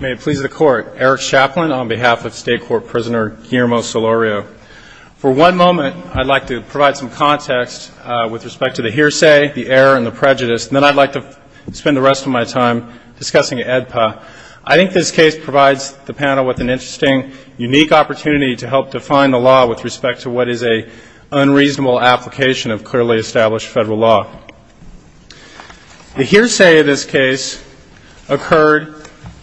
May it please the Court, Eric Chaplin on behalf of State Court Prisoner Guillermo Solorio. For one moment, I'd like to provide some context with respect to the hearsay, the error, and the prejudice, and then I'd like to spend the rest of my time discussing the AEDPA. I think this case provides the panel with an interesting, unique opportunity to help define the law with respect to what is a unreasonable application of clearly established federal law. The hearsay of this case occurred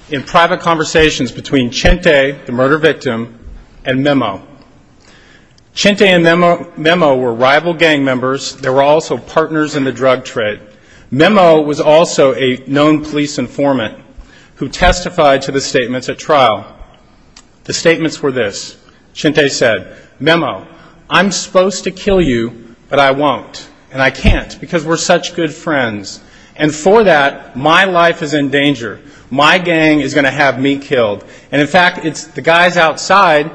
in private conversations between Chente, the murder victim, and Memo. Chente and Memo were rival gang members. They were also partners in the drug trade. Memo was also a known police informant who testified to the statements at trial. The statements were this. Chente said, Memo, I'm supposed to kill you, but I won't, and I can't because we're such good friends. And for that, my life is in danger. My gang is going to have me killed. And in fact, it's the guys outside,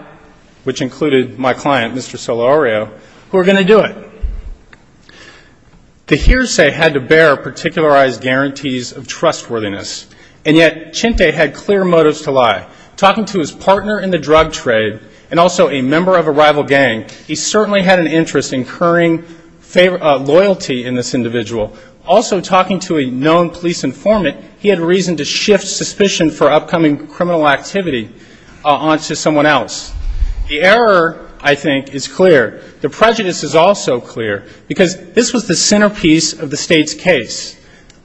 which included my client, Mr. Solorio, who are going to do it. The hearsay had to bear particularized guarantees of trustworthiness, and yet Chente had clear motives to lie. Talking to his partner in the drug trade and also a member of a rival gang, he certainly had an interest in incurring loyalty in this individual. Also talking to a known police informant, he had reason to shift suspicion for upcoming criminal activity onto someone else. The error, I think, is clear. The prejudice is also clear, because this was the centerpiece of the State's case.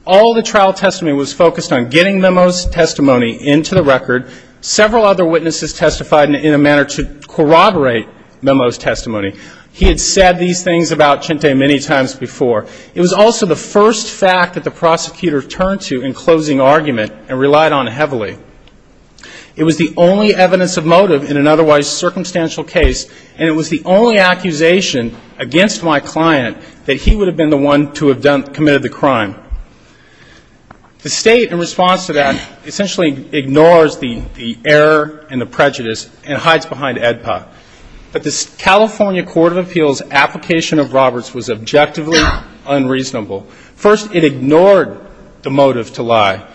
All the trial testimony was focused on getting Memo's testimony into the record. Several other witnesses testified in a manner to corroborate Memo's testimony. He had said these things about Chente many times before. It was also the first fact that the prosecutor turned to in closing argument and relied on heavily. It was the only evidence of motive in an otherwise circumstantial case, and it was the only accusation against my client that he would have been the one to have committed the crime. The State, in response to that, essentially ignores the error and the prejudice and hides behind AEDPA. But the California Court of Appeals' application of Roberts was objectively unreasonable. First, it ignored the motive to lie.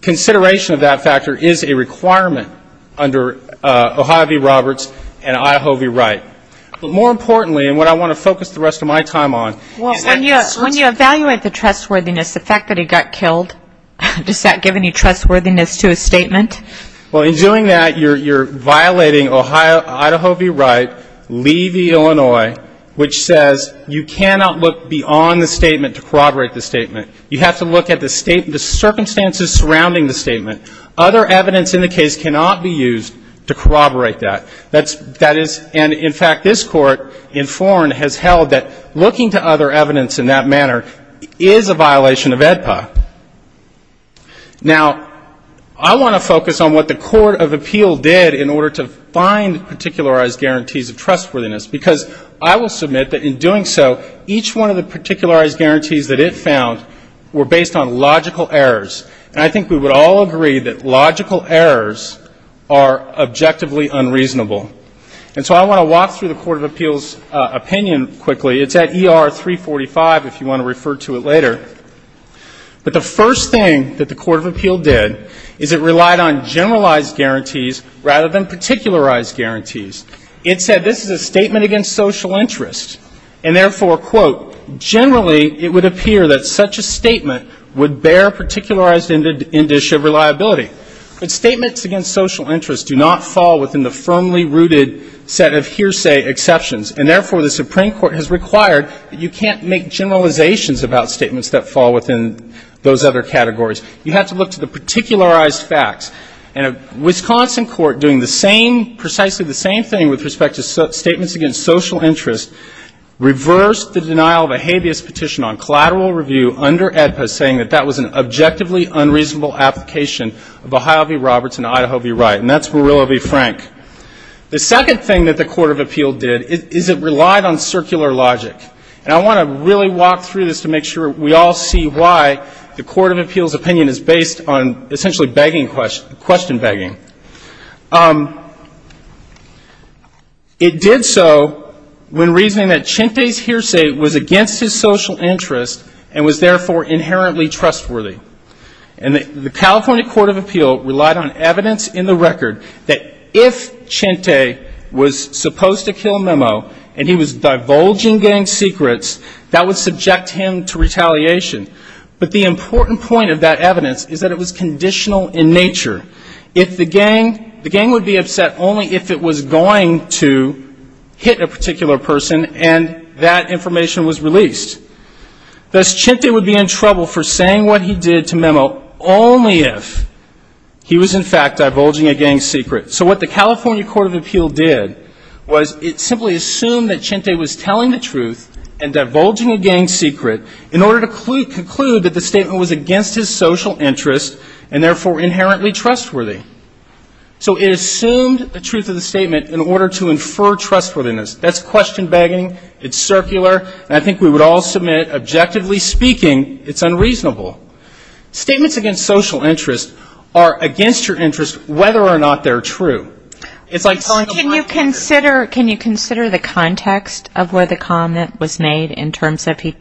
Consideration of that factor is a requirement under O'Hivey-Roberts and Ihovey-Wright. But more importantly, and what I want to focus the rest of my time on, is that when you evaluate the trustworthiness, the fact that he got killed, does that give any trustworthiness to his statement? Well, in doing that, you're violating Idaho v. Wright, Lee v. Illinois, which says you cannot look beyond the statement to corroborate the statement. You have to look at the circumstances surrounding the statement. Other evidence in the case cannot be used to corroborate that. That is, and in fact, this Court in foreign has held that looking to other evidence in that manner is a violation of AEDPA. Now, I want to focus on what the Court of Appeal did in order to find particularized guarantees of trustworthiness, because I will submit that in doing so, each one of the particularized guarantees that it found were based on logical errors. And I think we would all agree that logical errors are objectively unreasonable. And so I want to walk through the Court of Appeal's opinion quickly. It's at ER 345, if you want to refer to it later. But the first thing that the Court of Appeal did is it relied on generalized guarantees rather than particularized guarantees. It said this is a statement against social interest, and therefore, quote, generally it would appear that such a statement would bear particularized indicia reliability. But statements against social interest do not fall within the firmly rooted set of hearsay exceptions. And therefore, the Supreme Court has required that you can't make generalizations about statements that fall within those other categories. You have to look to the particularized facts. And a Wisconsin court doing the same, precisely the same thing with respect to statements against social interest, reversed the denial of a habeas petition on collateral review under AEDPA saying that that was an objectively unreasonable application of Ohio v. Roberts and Idaho v. Wright. And that's Burillo v. Frank. The second thing that the Court of Appeal did is it relied on circular logic. And I want to really walk through this to make sure we all see why the Court of Appeal's opinion is based on essentially question begging. It did so when reasoning that Chente's hearsay was against his social interest and was therefore inherently trustworthy. And the California Court of Appeal relied on evidence in the record that if Chente was supposed to kill Memo and he was divulging gang secrets, that would subject him to retaliation. But the important point of that evidence is that it was conditional in nature. If the gang, the gang would be upset only if it was going to hit a particular person and that information was released. Thus, Chente would be in trouble for saying what he did to Memo only if he was, in fact, divulging a gang secret. So what the California Court of Appeal did was it simply assumed that Chente was telling the gang secret in order to conclude that the statement was against his social interest and therefore inherently trustworthy. So it assumed the truth of the statement in order to infer trustworthiness. That's question begging. It's circular. And I think we would all submit objectively speaking, it's unreasonable. Statements against social interest are against your interest whether or not they're true. Can you consider the context of where the comment was made in terms of he,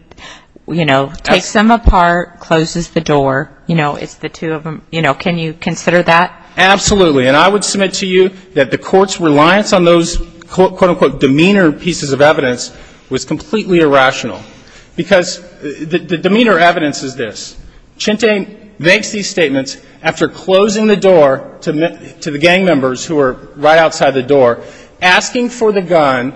you know, takes them apart, closes the door, you know, it's the two of them, you know, can you consider that? Absolutely. And I would submit to you that the court's reliance on those, quote, unquote, demeanor pieces of evidence was completely irrational. Because the demeanor evidence is this. Chente makes these statements after closing the door to the gang members who are right outside the door, asking for the gun,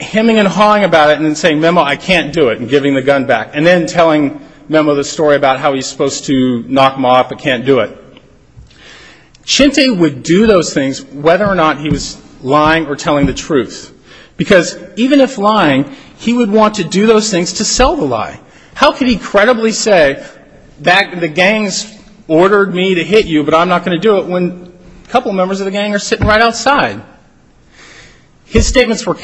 hemming and hawing about it, and then saying, Memo, I can't do it, and giving the gun back. And then telling Memo the story about how he's supposed to knock Ma up but can't do it. Chente would do those things whether or not he was lying or telling the truth. Because even if lying, he would want to do those things to sell the lie. How could he incredibly say that the gang's ordered me to hit you but I'm not going to do it when a couple members of the gang are sitting right outside? His statements were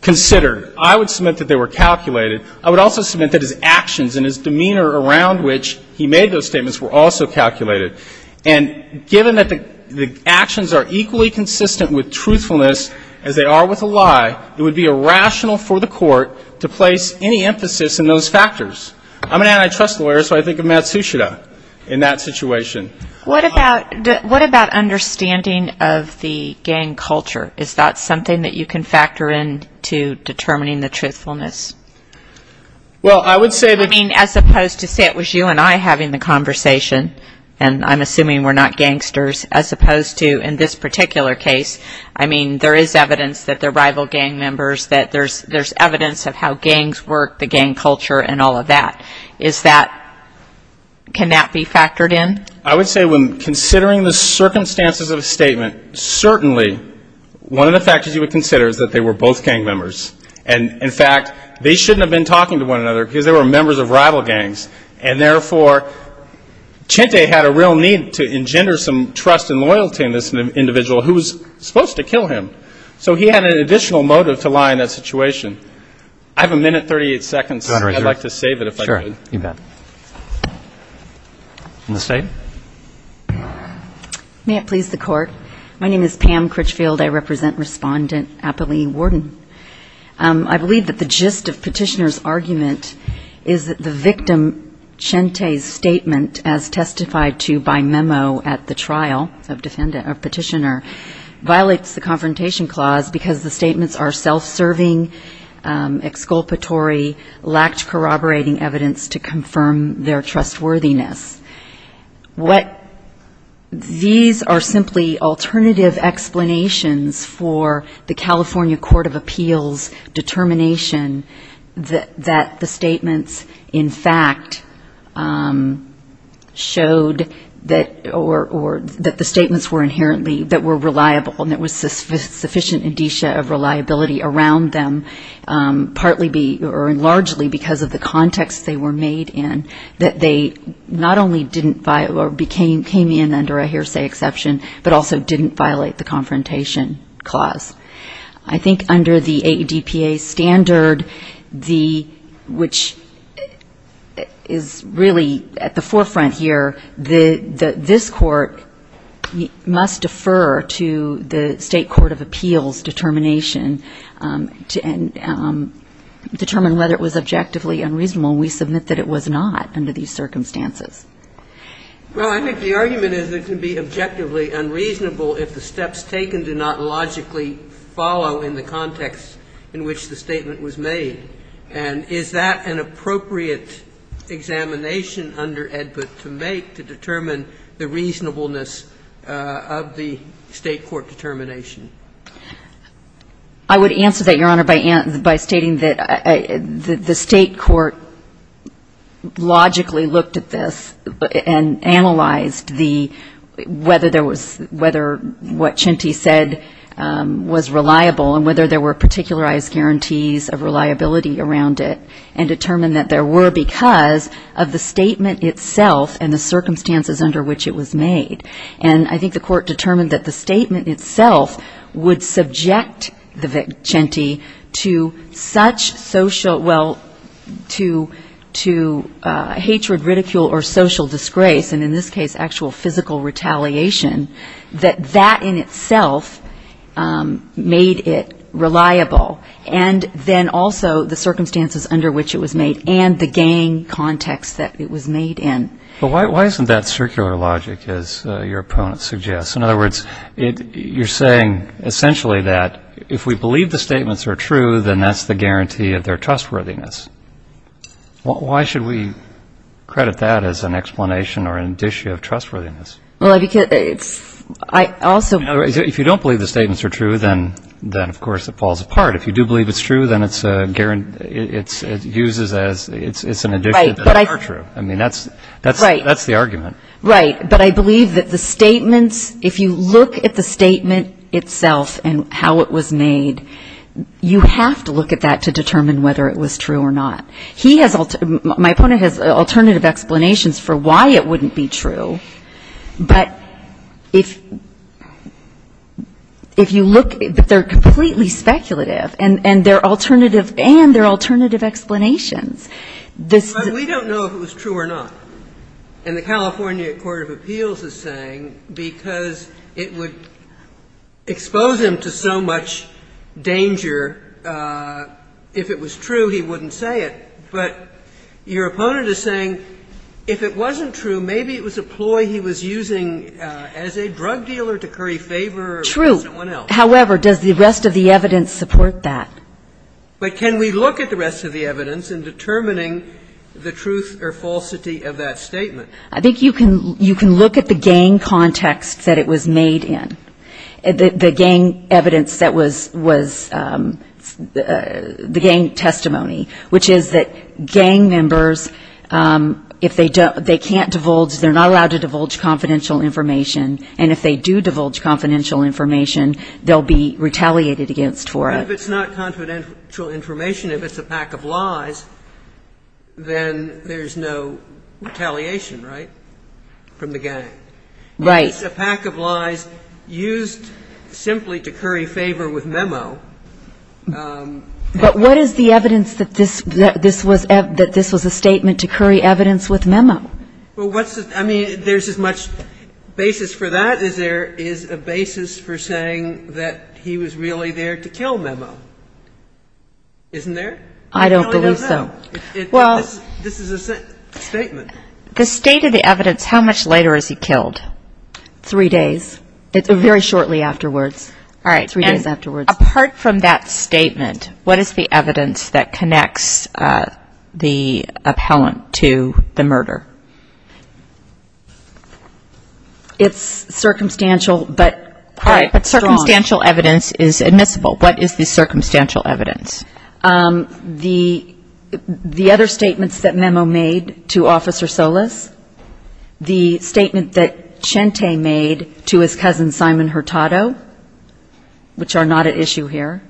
considered. I would submit that they were calculated. I would also submit that his actions and his demeanor around which he made those statements were also calculated. And given that the actions are equally consistent with truthfulness as they are with a lie, it would be irrational for the court to place any emphasis in those factors. I'm an antitrust lawyer, so I think of Matsushita in that situation. What about understanding of the gang culture? Is that something that you can factor in to determining the truthfulness? Well, I would say that as opposed to say it was you and I having the conversation, and I'm assuming we're not together, there's evidence of how gangs work, the gang culture and all of that. Can that be factored in? I would say when considering the circumstances of a statement, certainly one of the factors you would consider is that they were both gang members. And in fact, they shouldn't have been talking to one another because they were members of rival gangs. And therefore, Chente had a real need to engender some trust and loyalty in this individual who was supposed to kill him. So he had an additional motive to lie in that situation. I have a minute, 38 seconds. I'd like to save it, if I could. In the state? May it please the court. My name is Pam Critchfield. I represent Respondent Appali Warden. I believe that the gist of Petitioner's argument is that the victim, Chente's statement, as Petitioner, violates the Confrontation Clause because the statements are self-serving, exculpatory, lacked corroborating evidence to confirm their trustworthiness. These are simply alternative explanations for the California Court of Appeals determination that the statements, in fact, showed that or that the statements were inherently, that were reliable and there was sufficient indicia of reliability around them, partly or largely because of the context they were made in, that they not only didn't violate or came in under a hearsay exception, but also didn't violate the Confrontation Clause. I think under the ADPA standard, the, which, if you look at the state of California, the state of California, is really at the forefront here. This Court must defer to the State Court of Appeals determination to determine whether it was objectively unreasonable. We submit that it was not under these circumstances. Well, I think the argument is it can be objectively unreasonable if the steps taken do not logically follow in the context in which the statement was made. And is that an appropriate examination under ADPA to make to determine the reasonableness of the State Court determination? I would answer that, Your Honor, by stating that the State Court logically looked at this and analyzed the, whether there was, whether what Chinti said was reliable and whether there were particularized guarantees of reliability around it, and determined that there were because of the statement itself and the circumstances under which it was made. And I think the Court determined that the statement itself would subject the Vic Chinti to such social, well, to hatred, ridicule or social disgrace, and in this case, actual physical retaliation, that that in itself made it reliable, and then also the circumstances under which it was made and the gang context that it was made in. But why isn't that circular logic, as your opponent suggests? In other words, you're saying essentially that if we believe the statements are true, then that's the guarantee of their trustworthiness. Why should we credit that as an explanation or an issue of trustworthiness? Well, because it's, I also... If you don't believe the statements are true, then, of course, it falls apart. If you do believe it's true, then it's a guarantee, it's used as, it's an addition that they are true. I mean, that's the argument. Right. But I believe that the statements, if you look at the statement itself and how it was made, you have to look at that to determine whether it's true or not. But if you look, they're completely speculative and they're alternative, and they're alternative explanations. But we don't know if it was true or not. And the California Court of Appeals is saying because it would expose him to so much danger, if it was true, he wouldn't say it. But your opponent is saying if it wasn't true, maybe it was a ploy he was using as a drug dealer to curry favor with someone else. True. However, does the rest of the evidence support that? But can we look at the rest of the evidence in determining the truth or falsity of that statement? I think you can look at the gang context that it was made in, the gang evidence that was the gang testimony, which is that gang members, if they can't divulge, they're not allowed to divulge confidential information. And if they do divulge confidential information, they'll be retaliated against for it. But if it's not confidential information, if it's a pack of lies, then there's no retaliation, right, from the gang? Right. If it's a pack of lies used simply to curry favor with Memo. But what is the evidence that this was a statement to curry evidence with Memo? Well, what's the – I mean, there's as much basis for that as there is a basis for saying that he was really there to kill Memo, isn't there? I don't believe so. No, no, no. This is a statement. The state of the evidence, how much later is he killed? Three days. Very shortly afterwards. Three days afterwards. All right. And apart from that statement, what is the evidence that connects the appellant to the murder? It's circumstantial, but strong. All right. Circumstantial evidence is admissible. What is the circumstantial evidence? The other statements that Memo made to Officer Solis, the statement that Chente made to his cousin, Simon Hurtado, which are not at issue here,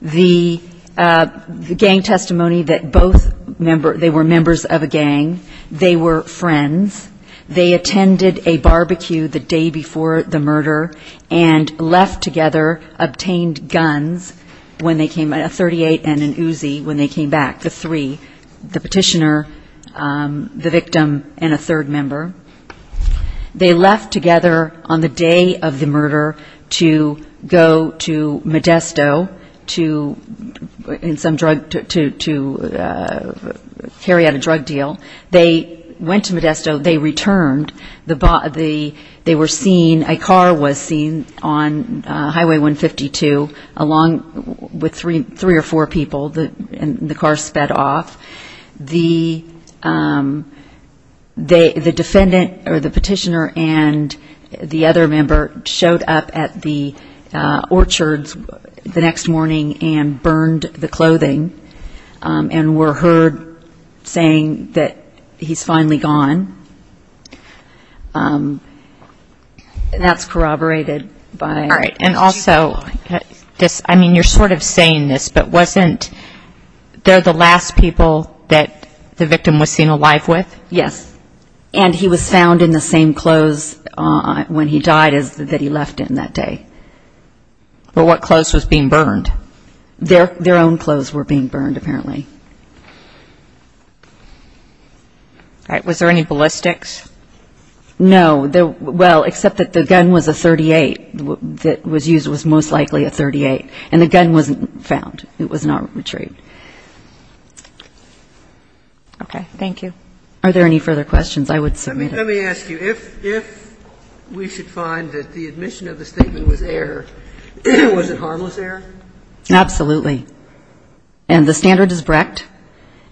the gang testimony that both – they were members of a gang. They were friends. They attended a barbecue the day before the murder and left together, obtained guns when they came – a .38 and an Uzi when they came back, the three, the petitioner, the victim, and a third member. They left together on the day of the murder to go to Modesto to – in some drug – to carry out a drug deal. They went to Modesto. They returned. They were seen – a car was seen on Highway 152 along with three or four people, and the car sped off. The defendant or the petitioner and the other member showed up at the orchards the next morning and burned the clothing and were heard saying that he's finally gone. And that's corroborated by – All right. And also, I mean, you're sort of saying this, but wasn't – they're the last people that the victim was seen alive with? Yes. And he was found in the same clothes when he died that he left in that day. But what clothes was being burned? Their own clothes were being burned, apparently. All right. Was there any ballistics? No. Well, except that the gun was a .38, that was used was most likely a .38, and the gun wasn't found. It was not retrieved. Okay. Thank you. Are there any further questions? I would submit it. Let me ask you, if we should find that the admission of the statement was error, was it harmless error? Absolutely. And the standard is Brecht.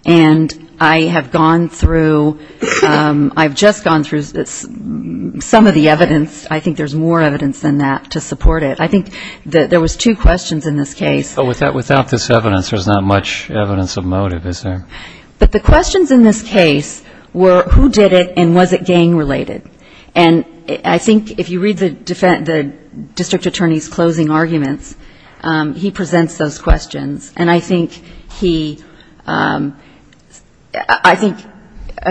And I have gone through – I've just gone through some of the evidence. I think there's more evidence than that to support it. I think there was two questions in this case. But without this evidence, there's not much evidence of motive, is there? But the questions in this case were, who did it and was it gang-related? And I think if you read the district attorney's closing arguments, he presents those questions. And I think he – I think,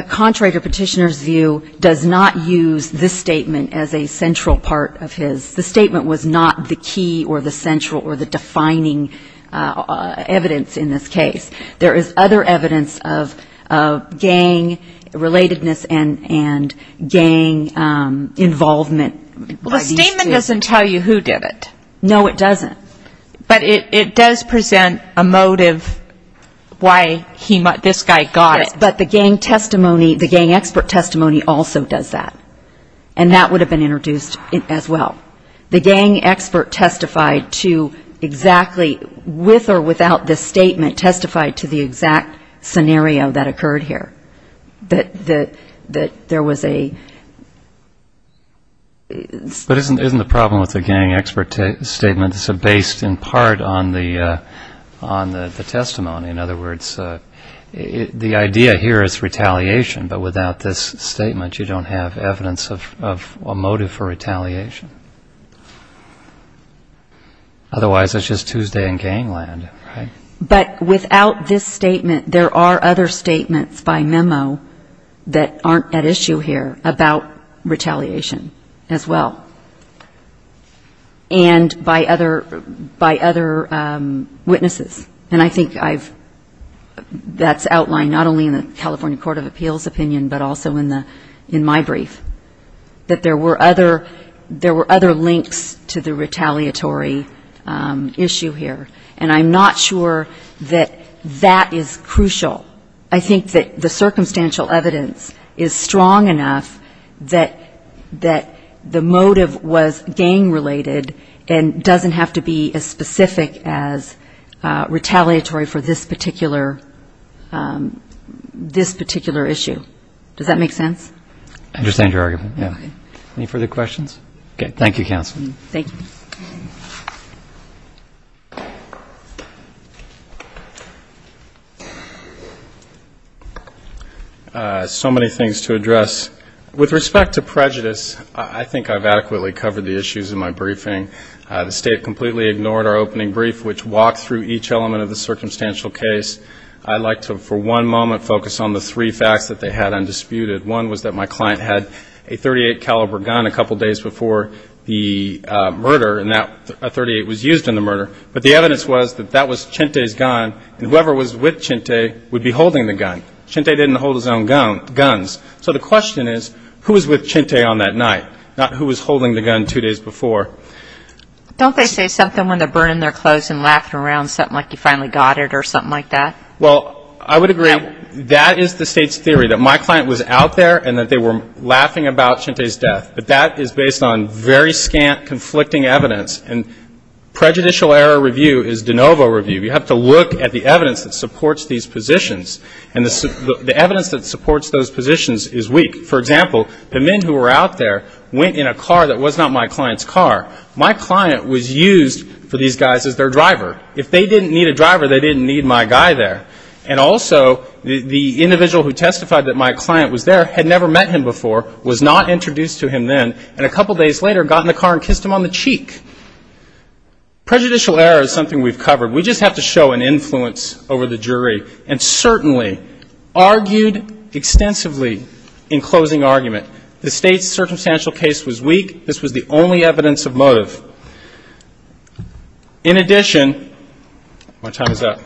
contrary to Petitioner's view, does not use this statement as a central part of his. The statement was not the key or the central or the defining evidence in this case. There is other evidence of gang-relatedness and gang involvement. Well, the statement doesn't tell you who did it. No, it doesn't. But it does present a motive why this guy got it. Yes, but the gang testimony, the gang expert testimony also does that. And that would have been introduced as well. The gang expert testified to exactly, with or without this statement, testified to the exact scenario that occurred here, that there was a... But isn't the problem with the gang expert statement, it's based in part on the testimony. In other words, the idea here is retaliation. But without this statement, you don't have evidence of a motive for retaliation. Otherwise, it's just Tuesday in gang land, right? But without this statement, there are other statements by memo that aren't at issue here about retaliation as well. And by other witnesses. And I think that's outlined not only in the California Court of Appeals opinion, but also in my brief, that there were other links to the retaliatory issue here. And I'm not sure that that is crucial. I think that the circumstantial evidence is strong enough that the motive was gang-related and doesn't have to be as specific as retaliatory for this particular issue. Does that make sense? Any further questions? Okay. Thank you, counsel. Thank you. So many things to address. With respect to prejudice, I think I've adequately covered the issues in my briefing. The State completely ignored our opening brief, which walked through each element of the circumstantial case. I'd like to, for one moment, focus on the three facts that they had undisputed. One was that my client had a .38 caliber gun a couple days before the murder, and that .38 was used in the murder. But the evidence was that that was Chente's gun, and whoever was with Chente would be holding the gun. Chente didn't hold his own guns. So the question is, who was with Chente on that night, not who was holding the gun two days before. Don't they say something when they're burning their clothes and laughing around, something like you finally got it or something like that? Well, I would agree. That is the State's theory, that my client was out there and that they were laughing about Chente's death. But that is based on very scant, conflicting evidence. And prejudicial error review is de novo review. You have to look at the evidence that supports these positions, and the evidence that supports those positions is weak. For example, the men who were out there went in a car that was not my client's car. My client was used for these guys as their driver. If they didn't need a driver, they didn't need my guy there. And also the individual who testified that my client was there had never met him before, was not introduced to him then, and a couple days later got in the car and kissed him on the cheek. Prejudicial error is something we've covered. We just have to show an influence over the jury, and certainly argued extensively in closing argument. The State's circumstantial case was weak. This was the only evidence of motive. In addition, my time is up.